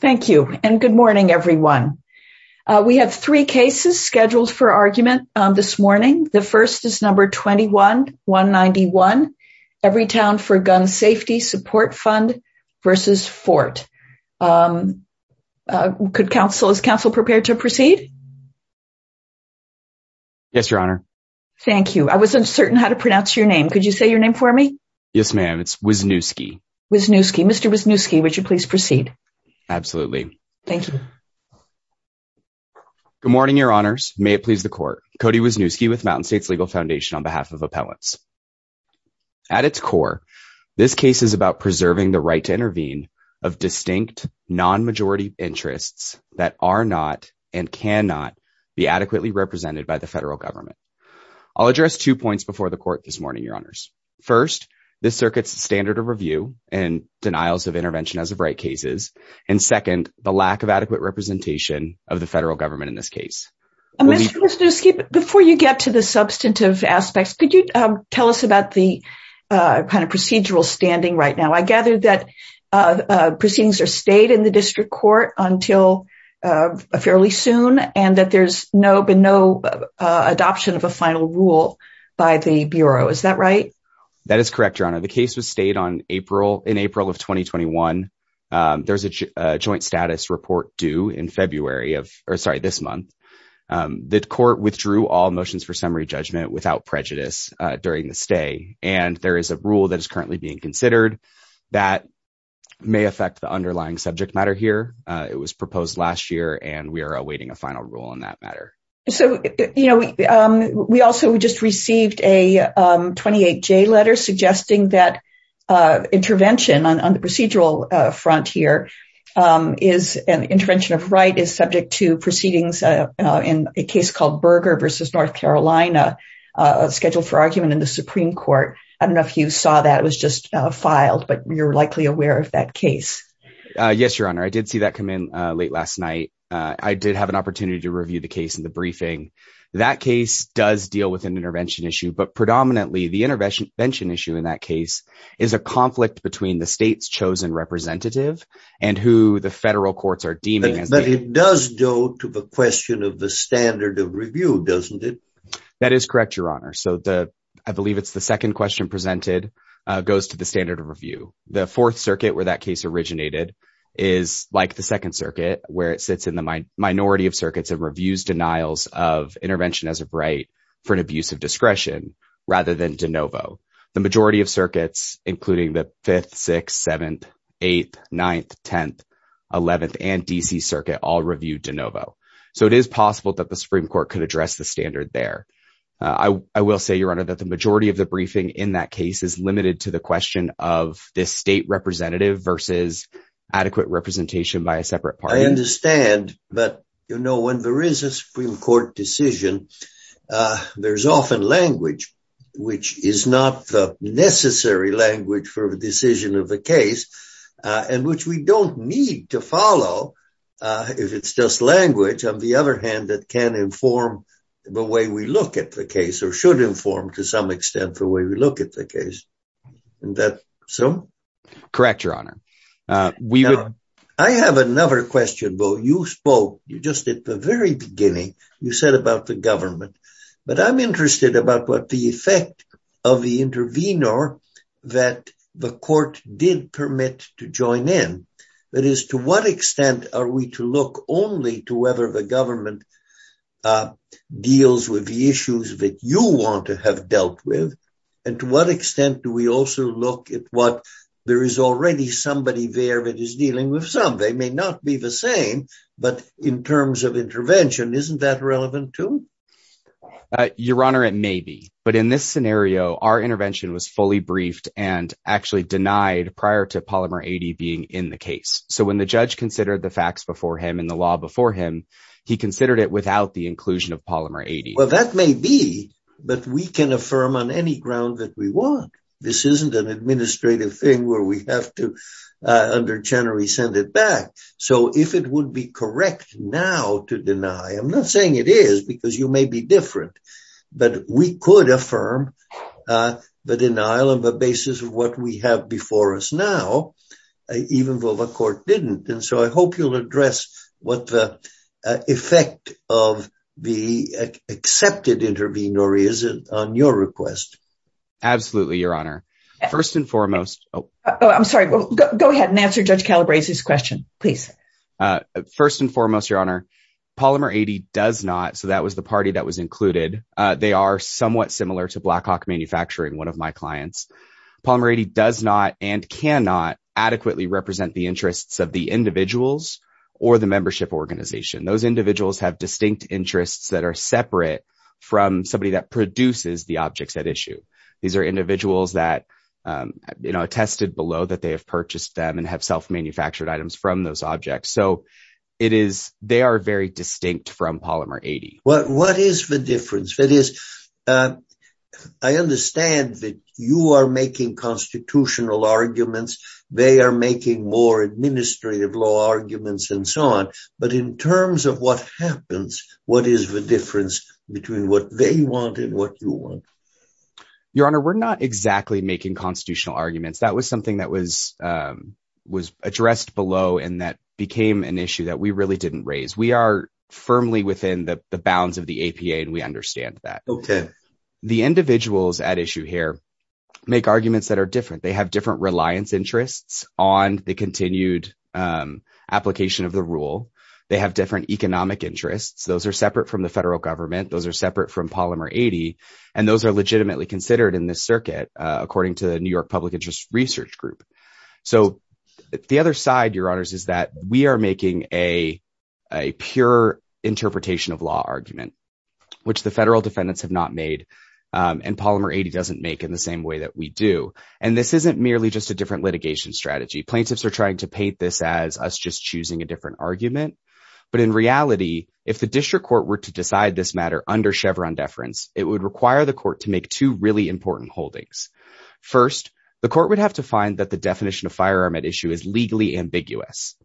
Thank you, and good morning everyone. We have three cases scheduled for argument this morning. The first is number 21-191, Everytown for Gun Safety Support Fund v. Fort. Could counsel, is counsel prepared to proceed? Yes, your honor. Thank you. I was uncertain how to pronounce your name. Could you say your name for me? Yes, ma'am. It's Wisniewski. Wisniewski. Mr. Wisniewski, would you please proceed? Absolutely. Thank you. Good morning, your honors. May it please the court. Cody Wisniewski with Mountain States Legal Foundation on behalf of appellants. At its core, this case is about preserving the right to intervene of distinct non-majority interests that are not and cannot be adequately represented by the federal government. I'll address two points before the court this morning, your honors. First, this circuit's standard of review and denials of intervention as of right cases. And second, the lack of adequate representation of the federal government in this case. Before you get to the substantive aspects, could you tell us about the kind of procedural standing right now? I gather that proceedings are stayed in the district court until fairly soon and that there's been no adoption of a final rule by the bureau. Is that right? That is correct, your honor. The case was stayed in April of 2021. There's a joint status report due in February of, or sorry, this month. The court withdrew all motions for summary judgment without prejudice during the stay. And there is a rule that is currently being considered that may affect the underlying subject matter here. It was proposed last year and we are awaiting a final rule on that matter. So, you know, we also just received a 28-J letter suggesting that intervention on the procedural front here is an intervention of right is subject to proceedings in a case called Berger versus North Carolina, scheduled for argument in the Supreme Court. I don't know if you saw that. It was just filed, but you're likely aware of that case. Yes, your honor. I did see that come in late last night. I did have an opportunity to review the case in the briefing. That case does deal with an intervention issue, but predominantly the intervention issue in that case is a conflict between the state's chosen representative and who the federal courts are deeming as- But it does go to the question of the standard of review, doesn't it? That is correct, your honor. So the, I believe it's the second question presented goes to the standard of review. The fourth circuit where that case originated is like the second circuit where it sits in minority of circuits and reviews denials of intervention as a right for an abuse of discretion rather than de novo. The majority of circuits, including the 5th, 6th, 7th, 8th, 9th, 10th, 11th, and DC circuit all reviewed de novo. So it is possible that the Supreme Court could address the standard there. I will say, your honor, that the majority of the briefing in that case is limited to the question of this state representative versus adequate representation by a separate party. I understand, but, you know, when there is a Supreme Court decision, there's often language, which is not the necessary language for the decision of the case and which we don't need to follow if it's just language, on the other hand, that can inform the way we look at the case or should inform to some extent the way we look at the case. Is that so? Correct, your honor. I have another question, though. You spoke, you just at the very beginning, you said about the government, but I'm interested about what the effect of the intervenor that the court did permit to join in. That is, to what extent are we to look only to whether the government deals with the issues that you want to have dealt with and to what extent do we also look at what there is already somebody there that is dealing with some. They may not be the same, but in terms of intervention, isn't that relevant too? Your honor, it may be, but in this scenario, our intervention was fully briefed and actually denied prior to Polymer 80 being in the case. So when the judge considered the facts before him and the law before him, he considered it without the inclusion of Polymer 80. Well, that may be, but we can affirm on any ground that we want. This isn't an administrative thing where we have to, under Chenery, send it back. So if it would be correct now to deny, I'm not saying it is because you may be different, but we could affirm the denial of the basis of what we have before us now, even though the court didn't. And so I hope you'll address what the effect of the intervenor is on your request. Absolutely, your honor. First and foremost. I'm sorry. Go ahead and answer Judge Calabrese's question, please. First and foremost, your honor, Polymer 80 does not. So that was the party that was included. They are somewhat similar to Blackhawk Manufacturing, one of my clients. Polymer 80 does not and cannot adequately represent the interests of the individuals or the membership organization. Those individuals have distinct interests that are separate from somebody that produces the objects at issue. These are individuals that attested below that they have purchased them and have self-manufactured items from those objects. So they are very distinct from Polymer 80. What is the difference? I understand that you are making constitutional arguments. They are making more administrative law arguments and so on. But in terms of what happens, what is the difference between what they want and what you want? Your honor, we're not exactly making constitutional arguments. That was something that was addressed below and that became an issue that we really didn't raise. We are firmly within the bounds of the APA and we understand that. The individuals at issue here make arguments that are different. They have different reliance interests on the continued application of the are separate from the federal government. Those are separate from Polymer 80 and those are legitimately considered in this circuit, according to the New York Public Interest Research Group. The other side, your honors, is that we are making a pure interpretation of law argument, which the federal defendants have not made and Polymer 80 doesn't make in the same way that we do. This isn't merely just a different litigation strategy. Plaintiffs are trying to paint this as just choosing a different argument. But in reality, if the district court were to decide this matter under Chevron deference, it would require the court to make two really important holdings. First, the court would have to find that the definition of firearm at issue is legally ambiguous.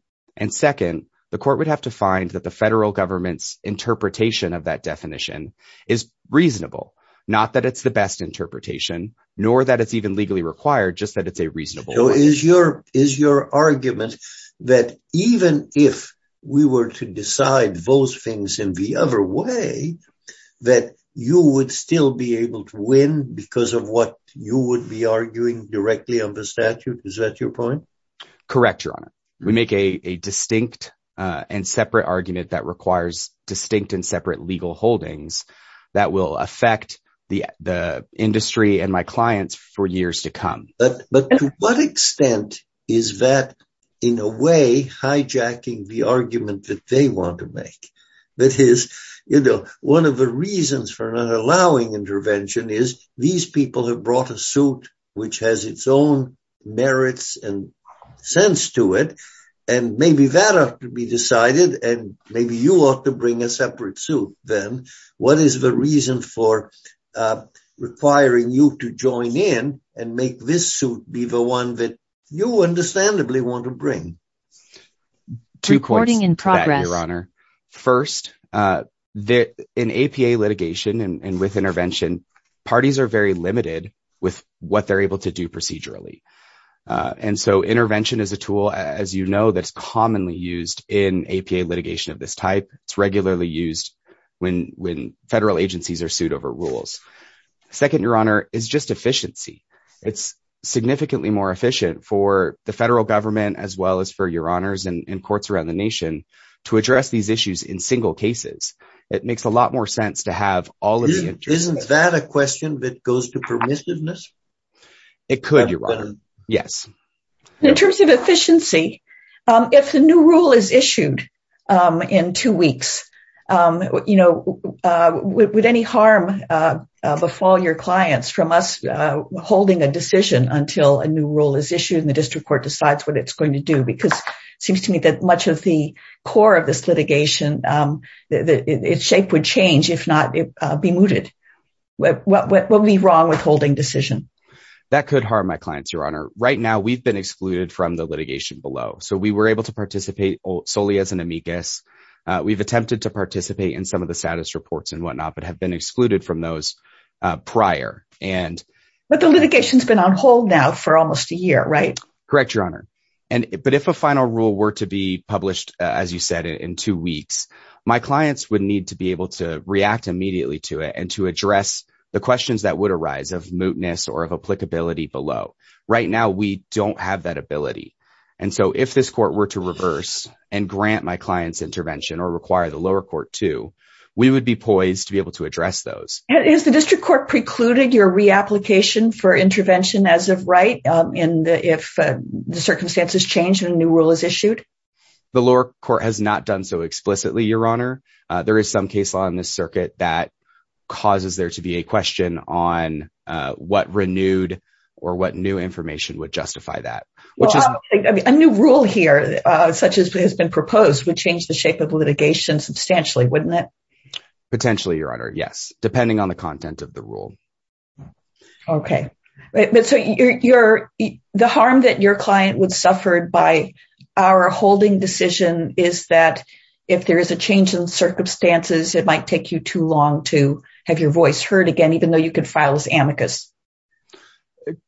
Second, the court would have to find that the federal government's interpretation of that definition is reasonable. Not that it's the best interpretation, nor that it's even legally required, just that it's a reasonable one. Is your argument that even if we were to decide those things in the other way, that you would still be able to win because of what you would be arguing directly on the statute? Is that your point? Correct, your honor. We make a distinct and separate argument that requires distinct and separate legal holdings that will affect the industry and my clients for years to come. But to what extent is that in a way hijacking the argument that they want to make? That is, you know, one of the reasons for not allowing intervention is these people have brought a suit, which has its own merits and sense to it. And maybe that could be decided and maybe you ought to bring a separate suit. Then what is the reason for requiring you to join in and make this suit be the one that you understandably want to bring? Two points in progress, your honor. First, in APA litigation and with intervention, parties are very limited with what they're able to do procedurally. And so intervention is a tool, as you know, that's commonly used in APA litigation of this type. It's regularly used when federal agencies are sued over rules. Second, your honor, is just efficiency. It's significantly more efficient for the federal government, as well as for your honors and courts around the nation to address these issues in single cases. It makes a lot more sense to have all of these. Isn't that a question that goes to permissiveness? It could, your honor. Yes. In terms of efficiency, if the new rule is issued in two weeks, you know, would any harm befall your clients from us holding a decision until a new rule is issued and the district court decides what it's going to do? Because it seems to me that much of the core of this litigation, its shape would change if not be mooted. What would be wrong with holding decision? That could harm my clients, your honor. Right now, we've been excluded from the litigation below. So we were able to participate solely as an amicus. We've attempted to participate in some of the status reports and whatnot, but have been excluded from those prior. But the litigation's been on hold now for almost a year, right? Correct, your honor. But if a final rule were to be published, as you said, in two weeks, my clients would need to be able to react immediately to it and to address the questions that would arise of mootness or of applicability below. Right now, we don't have that ability. And so if this court were to reverse and grant my clients intervention or require the lower court to, we would be poised to be able to address those. Has the district court precluded your reapplication for intervention as of right in the, if the circumstances change and a new rule is issued? The lower court has not done so explicitly, your honor. There is some case law in this circuit that causes there to be a question on what renewed or what new information would justify that. A new rule here such as has been proposed would change the shape of litigation substantially, wouldn't it? Potentially, your honor. Yes. Depending on the content of the rule. Okay. But so you're, the harm that your client would suffer by our holding decision is that if there is a change in circumstances, it might take you too long to have your voice heard again, even though you could file as amicus.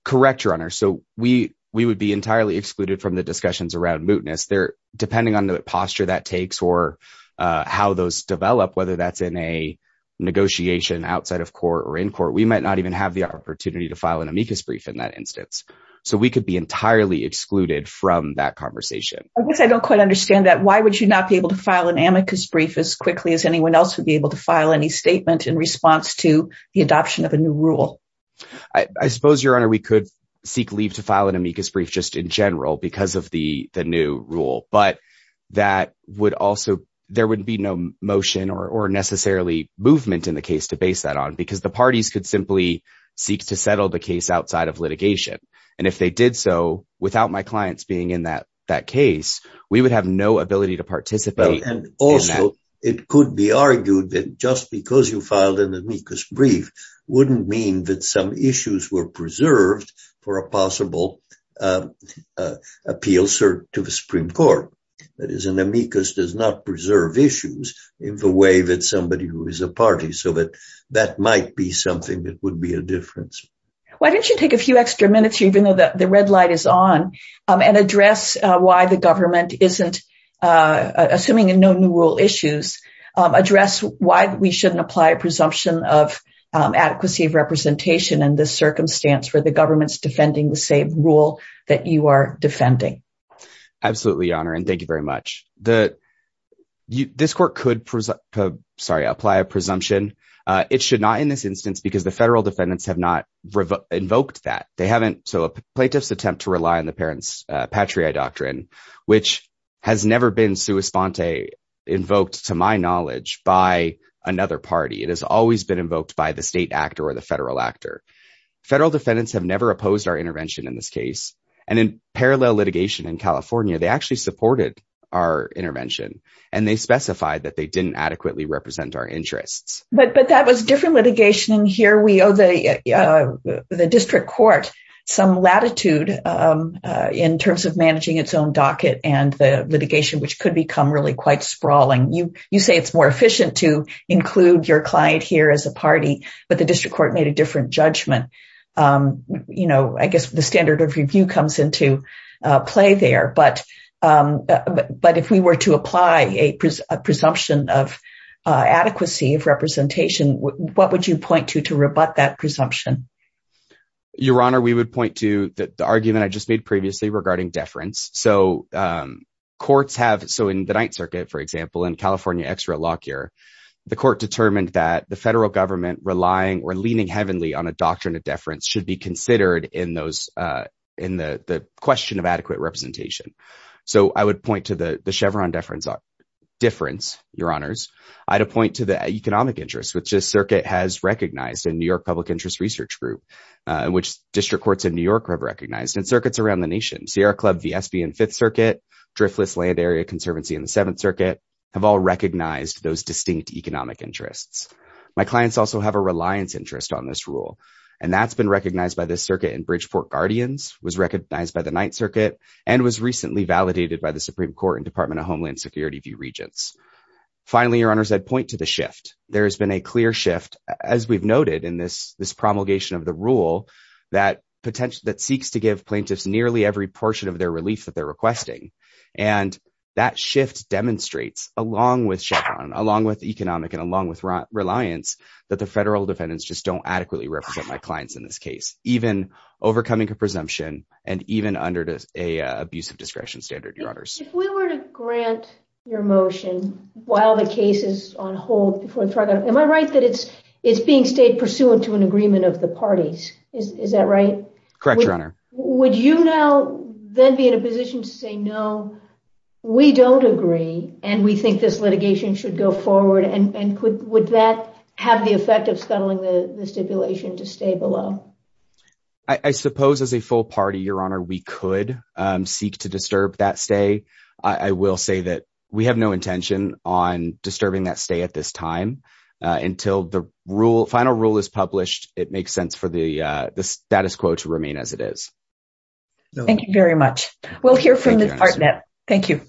Correct, your honor. So we would be entirely excluded from the discussions around mootness. Depending on the posture that takes or how those develop, whether that's in a negotiation outside of court or in court, we might not even have the opportunity to file an amicus brief in that instance. So we could be entirely excluded from that conversation. I guess I don't quite understand that. Why would you not be able to file an amicus brief as quickly as anyone else would be able to file any statement in response to the adoption of a new rule? I suppose your honor, we could seek leave to file an amicus brief just in general because of the new rule, but that would also, there would be no motion or necessarily movement in the case to base that on because the parties could simply seek to settle the case outside of litigation. And if they did so without my clients being in that case, we would have no ability to participate. And also it could be argued that just because you filed an amicus brief wouldn't mean that some issues were preserved for a possible appeal to the Supreme Court. That is an amicus does not preserve issues in the way that somebody who is a party, so that that might be something that would be a difference. Why don't you take a few extra minutes, even though the red light is on, and address why the government isn't, assuming no new rule issues, address why we shouldn't apply a presumption of adequacy of that you are defending. Absolutely, your honor. And thank you very much. This court could, sorry, apply a presumption. It should not in this instance, because the federal defendants have not invoked that. They haven't. So a plaintiff's attempt to rely on the parents Patriot doctrine, which has never been sui sponte invoked to my knowledge by another party. It has always been invoked by the state actor or the federal actor. Federal defendants have never opposed our intervention in this case. And in parallel litigation in California, they actually supported our intervention. And they specified that they didn't adequately represent our interests. But that was different litigation in here. We owe the district court some latitude in terms of managing its own docket and the litigation, which could become really quite sprawling. You say it's more efficient to include your client here as a party, but the district court made a different judgment. I guess the standard of review comes into play there. But if we were to apply a presumption of adequacy of representation, what would you point to, to rebut that presumption? Your honor, we would point to the argument I just made previously regarding deference. So courts have, so in the Ninth Circuit, for example, in California extra law cure, the court determined that the federal government relying or leaning heavenly on a doctrine of deference should be considered in the question of adequate representation. So I would point to the Chevron deference, your honors. I'd appoint to the economic interest, which this circuit has recognized in New York Public Interest Research Group, which district courts in New York have recognized and circuits around the nation, Sierra Club, VSB in Fifth Circuit, Driftless Land Area Conservancy in the Seventh Circuit have all recognized those distinct economic interests. My clients also have a reliance interest on this rule, and that's been recognized by this circuit in Bridgeport Guardians, was recognized by the Ninth Circuit and was recently validated by the Supreme Court and Department of Homeland Security Regents. Finally, your honors, I'd point to the shift. There has been a clear shift as we've noted in this promulgation of the rule that potential that seeks to give plaintiffs nearly every portion of their relief that they're shift demonstrates along with Chevron, along with economic and along with reliance, that the federal defendants just don't adequately represent my clients in this case, even overcoming a presumption and even under an abusive discretion standard, your honors. If we were to grant your motion while the case is on hold, am I right that it's being stayed pursuant to an agreement of the parties? Is that right? Correct, your honor. Would you now then be in a position to say, no, we don't agree and we think this litigation should go forward and would that have the effect of scuttling the stipulation to stay below? I suppose as a full party, your honor, we could seek to disturb that stay. I will say that we have no intention on disturbing that stay at this time until the final rule is published. It makes sense for the, uh, the status quo to remain as it is. Thank you very much. We'll hear from the partner. Thank you.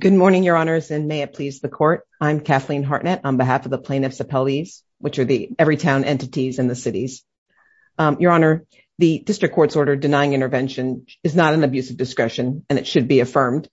Good morning, your honors. And may it please the court. I'm Kathleen Hartnett on behalf of the plaintiffs appellees, which are the every town entities in the cities. Um, your honor, the district court's order denying intervention is not an abusive discretion and it should be affirmed.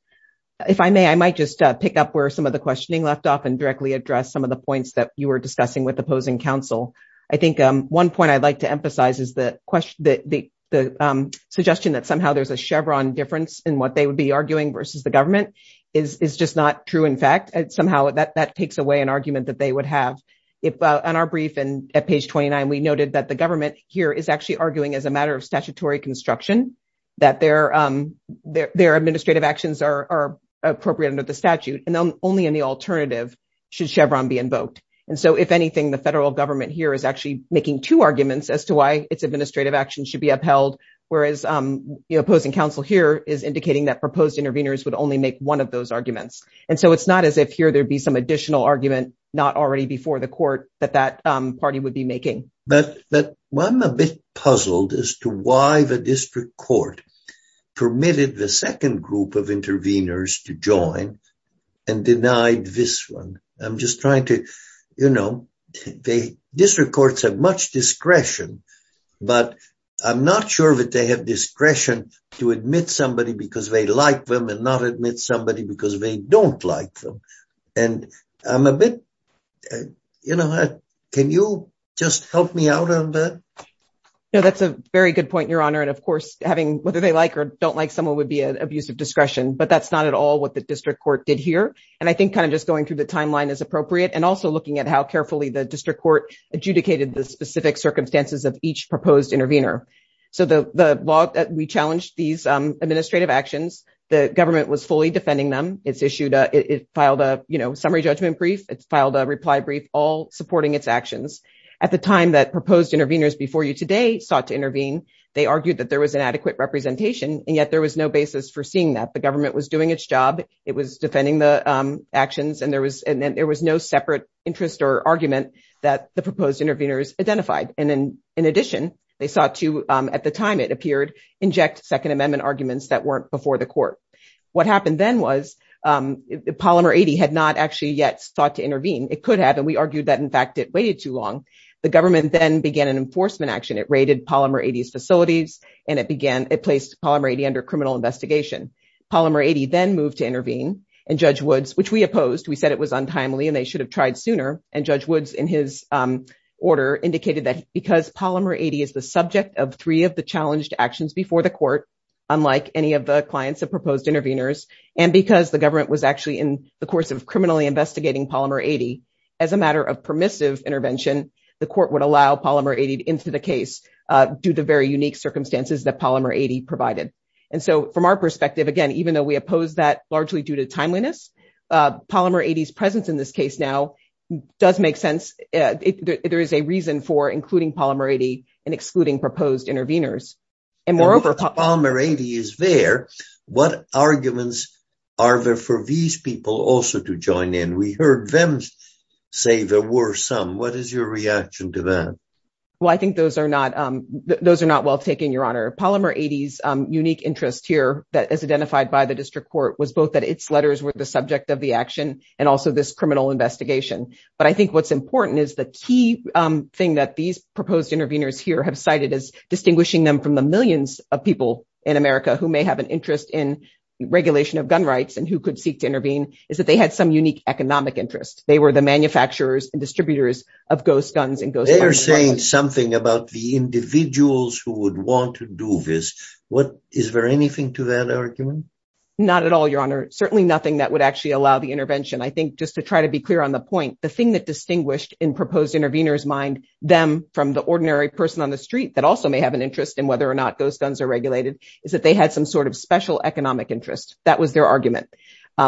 If I may, I might just pick up where some of the questioning left off and directly address some of the points that you were discussing with opposing council. I think, um, one point I'd like to emphasize is the question that the, the, um, suggestion that somehow there's a Chevron difference in what they would be arguing versus the government is, is just not true. In fact, it's somehow that that takes away an argument that they would have if, uh, on our brief and at page 29, we noted that the government here is actually arguing as a matter of statutory construction that their, um, their, their administrative actions are appropriate under the statute. And then only in the alternative should Chevron be invoked. And so if anything, the federal government here is actually making two arguments as to why it's administrative actions should be upheld. Whereas, um, you know, opposing council here is indicating that proposed intervenors would only make one of those arguments. And so it's not as if here, there'd be some additional argument, not already before the court that that, um, party would be making. But, but I'm a bit puzzled as to why the district court permitted the second group of intervenors to join and denied this one. I'm just trying to, you know, they, district courts have much discretion, but I'm not sure that they have discretion to admit somebody because they like them and not admit somebody because they don't like them. And I'm a bit, you know, can you just help me out on that? No, that's a very good point, Your Honor. And of course having, whether they like or don't like someone would be an abusive discretion, but that's not at all what the district court did here. And I think kind of just going through the timeline is appropriate and also looking at how carefully the district court adjudicated the specific circumstances of each proposed intervenor. So the, the law that we challenged these, um, administrative actions, the government was fully defending them. It's issued a, it filed a summary judgment brief. It's filed a reply brief, all supporting its actions at the time that proposed intervenors before you today sought to intervene. They argued that there was an adequate representation and yet there was no basis for seeing that the government was doing its job. It was defending the actions and there was, and then there was no separate interest or argument that the proposed intervenors identified. And then in addition, they sought to, um, at the time it appeared, inject second amendment arguments that weren't before the court. What happened then was, um, Polymer 80 had not actually yet thought to intervene. It could have, and we argued that in fact it waited too long. The government then began an enforcement action. It raided Polymer 80's facilities and it began, it placed Polymer 80 under criminal investigation. Polymer 80 then moved to intervene and Judge Woods, which we opposed, we said it was untimely and they should have tried sooner. And Judge Woods in his, um, order indicated that because Polymer 80 is the subject of three of the challenged actions before the court, unlike any of the clients of proposed intervenors, and because the government was actually in the course of intervention, the court would allow Polymer 80 into the case, uh, due to very unique circumstances that Polymer 80 provided. And so from our perspective, again, even though we opposed that largely due to timeliness, uh, Polymer 80's presence in this case now does make sense. There is a reason for including Polymer 80 and excluding proposed intervenors. And moreover, Polymer 80 is there. What arguments are there for these people also to join in? We heard them say there were some, what is your reaction to that? Well, I think those are not, um, those are not well taken, Your Honor. Polymer 80's, um, unique interest here that is identified by the district court was both that its letters were the subject of the action and also this criminal investigation. But I think what's important is the key, um, thing that these proposed intervenors here have cited as distinguishing them from the millions of people in America who may have an interest in regulation of gun rights and who could seek to intervene is that they had some unique economic interest. They were the manufacturers and distributors of ghost guns and ghosts. They are saying something about the individuals who would want to do this. What is there anything to that argument? Not at all, Your Honor. Certainly nothing that would actually allow the intervention. I think just to try to be clear on the point, the thing that distinguished in proposed intervenors mind them from the ordinary person on the street that also may have an interest in whether or not those guns are regulated is that they had some sort of special economic interest. That was their argument.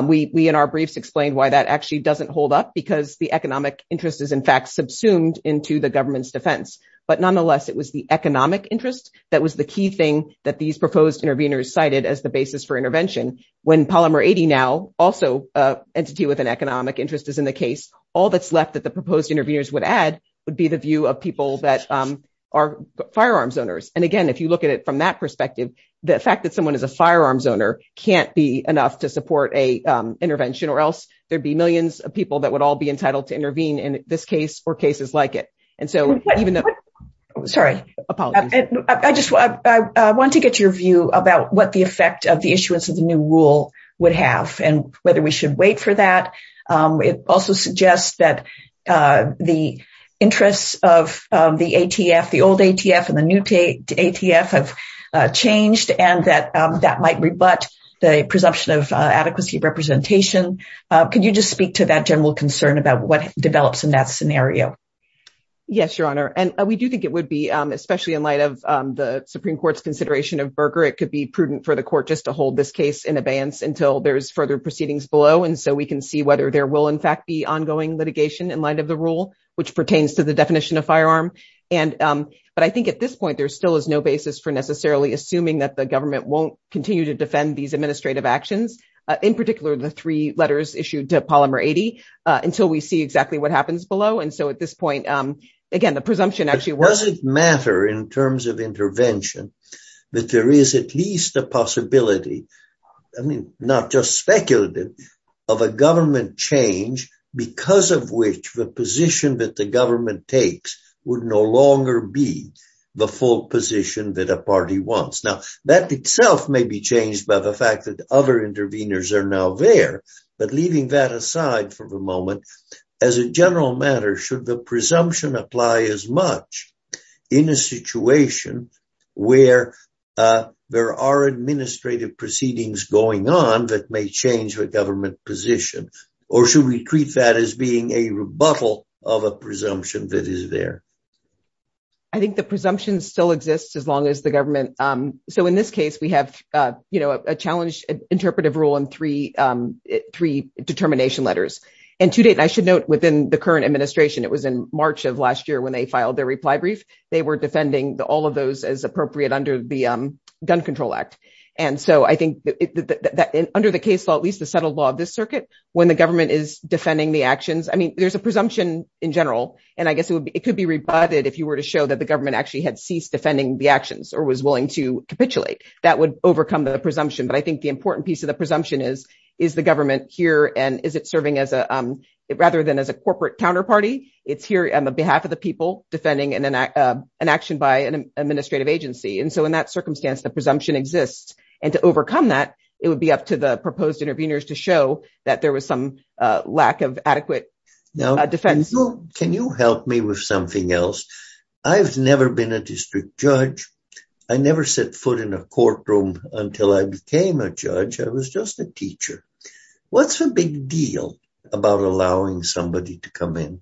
We in our briefs explained why that actually doesn't hold up because the economic interest is in fact subsumed into the government's defense. But nonetheless, it was the economic interest that was the key thing that these proposed intervenors cited as the basis for intervention. When Polymer 80 now also, uh, entity with an economic interest is in the case, all that's left that the proposed intervenors would add would be the view of people that, um, are firearms owners. And again, if you look at it from that perspective, the fact that someone is a firearms owner can't be enough to support a, um, intervention or else there'd be millions of people that would all be entitled to intervene in this case or cases like it. And so even though, sorry, I just want to get your view about what the effect of the issuance of the new rule would have and whether we should wait for that. Um, it also suggests that, uh, the interests of, um, the ATF, the old ATF and the new ATF have, uh, changed and that, um, that might rebut the presumption of, uh, adequacy representation. Uh, could you just speak to that general concern about what develops in that scenario? Yes, your honor. And we do think it would be, um, especially in light of, um, the Supreme court's consideration of Berger, it could be prudent for the court just to hold this case in advance until there's further proceedings below. And so we can see whether there will in fact be ongoing litigation in light of the rule, which pertains to the definition of firearm. And, um, but I think at this point, there still is no basis for necessarily assuming that the government won't continue to defend these administrative actions. Uh, in particular, the three letters issued to Polymer 80, uh, until we see exactly what happens below. And so at this point, um, again, the presumption actually. Does it matter in terms of intervention that there is at least a possibility, I mean, not just speculative, of a government change because of which the position that the government takes would no longer be the full position that a party wants. Now that itself may be changed by the fact that other interveners are now there, but leaving that aside for the moment, as a general matter, should the presumption apply as much in a situation where, uh, there are administrative proceedings going on that may change the government position, or should we treat that as being a rebuttal of a presumption that is there? I think the presumption still exists, as long as the government, um, so in this case, we have, uh, you know, a challenge interpretive rule and three, um, three determination letters. And to date, I should note within the current administration, it was in March of last year when they filed their reply brief, they were defending all of those as appropriate under the gun control act. And so I think that under the case law, at least the settled law of this circuit, when the government is defending the actions, I mean, there's a presumption in general, and I guess it could be rebutted if you were to show that the government actually had ceased defending the actions or was willing to capitulate, that would overcome the presumption. But I think the important piece of the presumption is, is the government here and is it serving as a, um, rather than as a corporate counterparty, it's here on behalf of the people defending and then, uh, an action by an administrative agency. And so in that circumstance, the presumption exists and to overcome that, it would be up to the proposed intervenors to show that there was some, uh, lack of adequate defense. Can you help me with something else? I've never been a district judge. I never set foot in a courtroom until I became a judge. I was just a teacher. What's the big deal about allowing somebody to come in?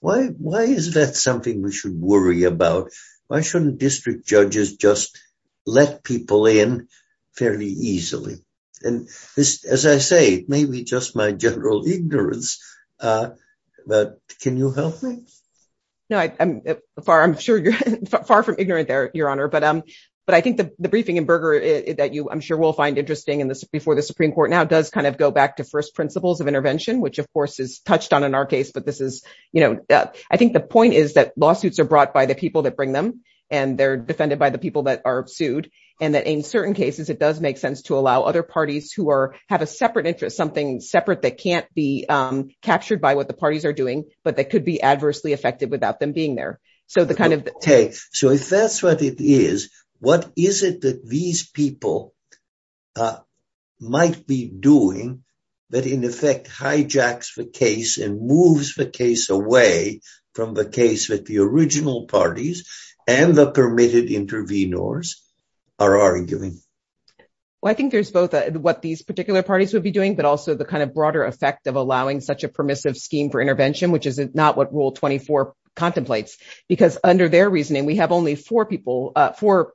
Why, why is that something we should worry about? Why shouldn't district judges just let people in fairly easily? And as I say, maybe just my general ignorance, uh, but can you help me? No, I'm far, I'm sure you're far from ignorant there, Your Honor. But, um, but I think the briefing in Berger that you, I'm sure we'll find interesting in the, before the Supreme Court now does kind of go back to first principles of intervention, which of course is touched on in our case, but this is, you know, uh, I think the point is that lawsuits are brought by the people that bring them and they're defended by the people that are sued. And that in certain cases, it does make sense to allow other parties who are, have a separate interest, something separate that can't be, um, captured by what the parties are doing, but that could be adversely affected without them being there. So the kind of... Okay. So if that's what it is, what is it that these people, uh, might be doing that in effect hijacks the case and moves the case away from the case that the original parties and the permitted intervenors are arguing? Well, I think there's both what these particular parties would be doing, but also the kind of broader effect of allowing such a permissive scheme for intervention, which is not what rule 24 contemplates because under their reasoning, we have only four people, uh, four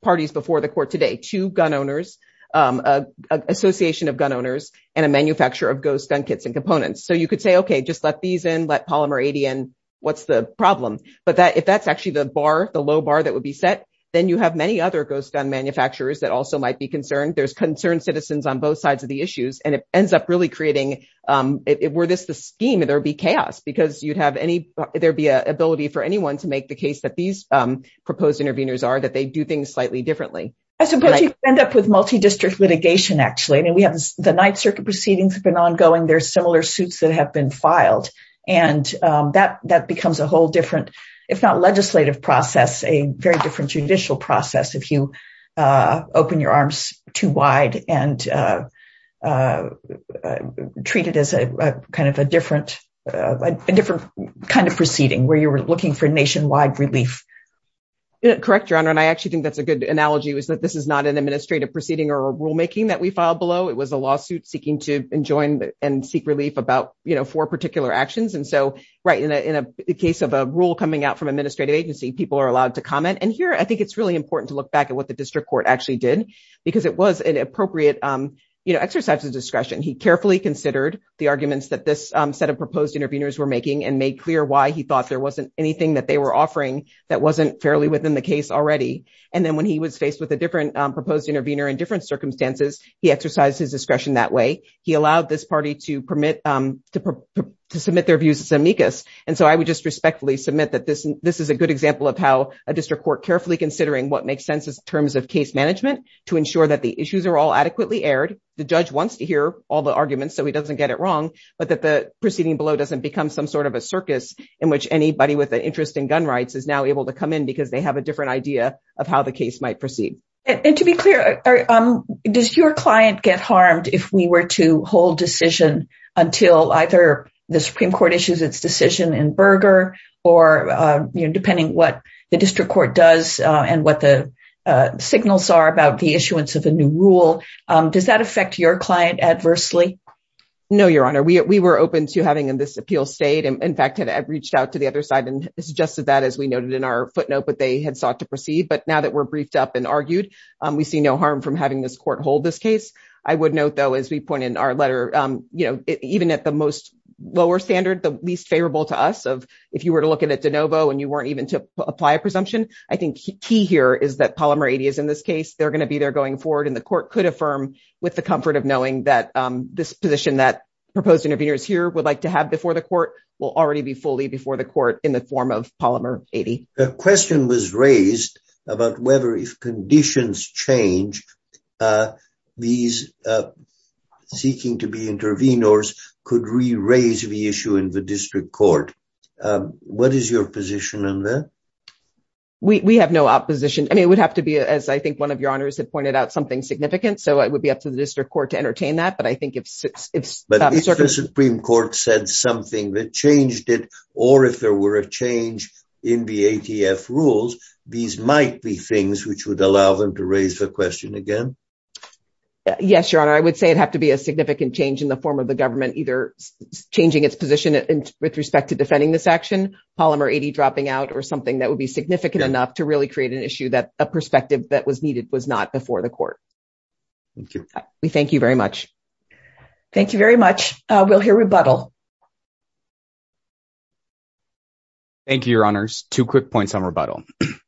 parties before the court today, two gun owners, um, association of gun owners and a manufacturer of ghost gun kits and components. So you could say, okay, just let these in, let polymer ADN, what's the problem. But that, if that's actually the bar, the low bar that would be set, then you have many other ghost gun manufacturers that also might be concerned. There's concerned citizens on both sides of the issues. And it ends up really creating, um, if it were this, the scheme, there'd be chaos because you'd have any, there'd be a ability for anyone to make the case that these, um, proposed intervenors are that they do things differently. I suppose you end up with multi-district litigation, actually. I mean, we have the ninth circuit proceedings have been ongoing. There's similar suits that have been filed. And, um, that, that becomes a whole different, if not legislative process, a very different judicial process. If you, uh, open your arms too wide and, uh, uh, uh, treated as a, uh, kind of a different, uh, a different kind of proceeding where you were looking for nationwide relief. Correct, John. And I actually think that's a good analogy was that this is not an administrative proceeding or rulemaking that we filed below. It was a lawsuit seeking to enjoin and seek relief about, you know, for particular actions. And so right in a, in a case of a rule coming out from administrative agency, people are allowed to comment. And here, I think it's really important to look back at what the district court actually did because it was an appropriate, um, you know, exercise of discretion. He carefully considered the arguments that this, um, set of proposed intervenors were making and made clear why he wasn't anything that they were offering that wasn't fairly within the case already. And then when he was faced with a different, um, proposed intervenor in different circumstances, he exercised his discretion that way. He allowed this party to permit, um, to, to submit their views as amicus. And so I would just respectfully submit that this, this is a good example of how a district court carefully considering what makes sense in terms of case management to ensure that the issues are all adequately aired. The judge wants to hear all the arguments, so he doesn't get it wrong, but that the proceeding below doesn't become some sort of a circus in which anybody with an interest in gun rights is now able to come in because they have a different idea of how the case might proceed. And to be clear, does your client get harmed if we were to hold decision until either the Supreme Court issues its decision in Berger or, uh, you know, depending what the district court does, uh, and what the, uh, signals are about the issuance of a new rule. Um, does that affect your client adversely? No, Your Honor. We, we were open to having in this appeal state. And in fact, had reached out to the other side and suggested that as we noted in our footnote, but they had sought to proceed. But now that we're briefed up and argued, um, we see no harm from having this court hold this case. I would note though, as we point in our letter, um, you know, even at the most lower standard, the least favorable to us of if you were to look at it, DeNovo, and you weren't even to apply a presumption. I think key here is that polymer is in this case, they're going to be there going forward. And the court could affirm with the comfort of knowing that, um, this position that proposed intervenors here would like to have before the court will already be fully before the court in the form of polymer. The question was raised about whether if conditions change, uh, these, uh, seeking to be intervenors could re-raise the issue in the district court. Um, what is your position on that? We, we have no opposition. I mean, it would have to be, as I think one of your honors had pointed out something significant. So it would be up to the district court to entertain that. But I think if, if the Supreme court said something that changed it, or if there were a change in the ATF rules, these might be things which would allow them to raise the question again. Yes, your honor. I would say it'd have to be a significant change in the form of the government, either changing its position with respect to defending this action, polymer 80 dropping out or something that would be significant enough to really create an issue that a perspective that was needed was not before the court. Thank you. We thank you very much. Thank you very much. Uh, we'll hear rebuttal. Thank you, your honors. Two quick points on rebuttal.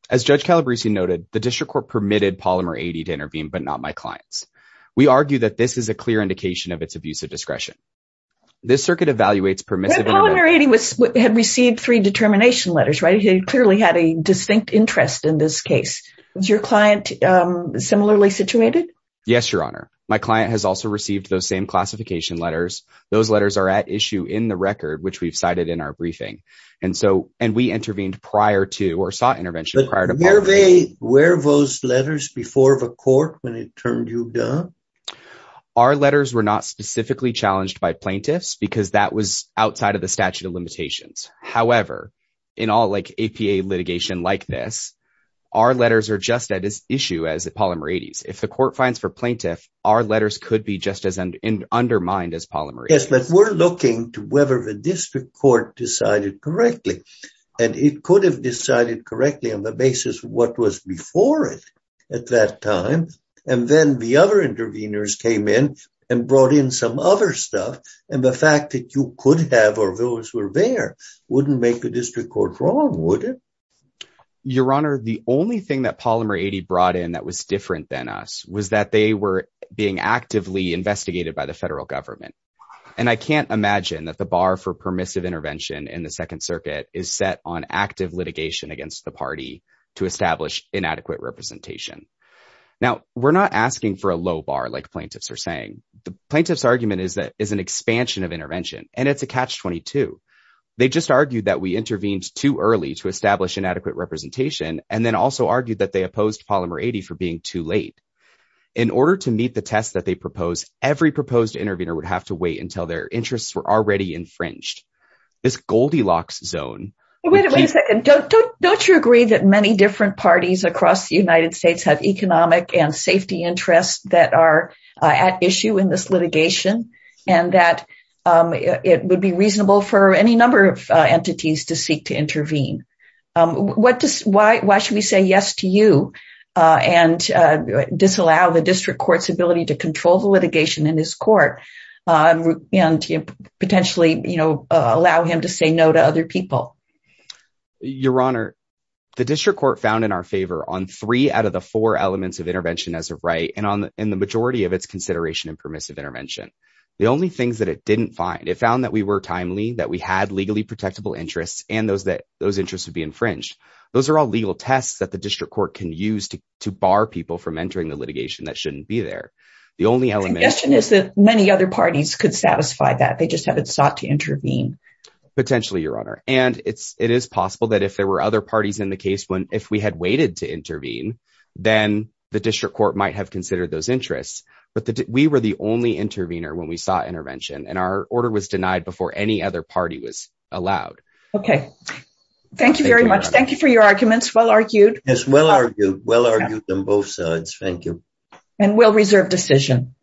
As judge Calabrese noted, the district court permitted polymer 80 to intervene, but not my clients. We argue that this is a clear indication of its abuse of discretion. This circuit evaluates permissive had received three determination letters, right? He clearly had a distinct interest in this case. Was your client similarly situated? Yes, your honor. My client has also received those same classification letters. Those letters are at issue in the record, which we've cited in our briefing. And so, and we intervened prior to, or sought intervention prior to where they court when it turned you down, our letters were not specifically challenged by plaintiffs because that was outside of the statute of limitations. However, in all like APA litigation like this, our letters are just at issue as a polymer 80s. If the court finds for plaintiff, our letters could be just as undermined as polymer. Yes, but we're looking to whether the district court decided correctly and it could have decided correctly on the basis of what was before it at that time. And then the other interveners came in and brought in some other stuff. And the fact that you could have, or those were there wouldn't make the district court wrong. Your honor, the only thing that polymer 80 brought in that was different than us was that they were being actively investigated by the federal government. And I can't imagine that the bar for permissive intervention in the second circuit is set on active litigation against the party to establish inadequate representation. Now we're not asking for a low bar like plaintiffs are saying the plaintiff's argument is that is an expansion of intervention and it's a catch 22. They just argued that we intervened too early to establish inadequate representation. And then also argued that they opposed polymer 80 for being too late in order to meet the tests that they propose. Every proposed intervener would have to wait until their interests were already infringed. This Goldilocks zone, don't you agree that many different parties across the United States have economic and safety interests that are at issue in this litigation and that it would be reasonable for any number of entities to seek to intervene. Why should we say yes to you and disallow the district court's allow him to say no to other people? Your honor, the district court found in our favor on three out of the four elements of intervention as a right. And on the, in the majority of its consideration and permissive intervention, the only things that it didn't find, it found that we were timely, that we had legally protectable interests and those that those interests would be infringed. Those are all legal tests that the district court can use to, to bar people from entering the litigation that shouldn't be there. The only element is that many other parties could satisfy that. They just haven't sought to intervene. Potentially your honor. And it's, it is possible that if there were other parties in the case when, if we had waited to intervene, then the district court might have considered those interests. But we were the only intervener when we saw intervention and our order was denied before any other party was allowed. Okay. Thank you very much. Thank you for your arguments. Well argued. Yes. Well argued. Well argued on both sides. Thank you. And we'll reserve decision.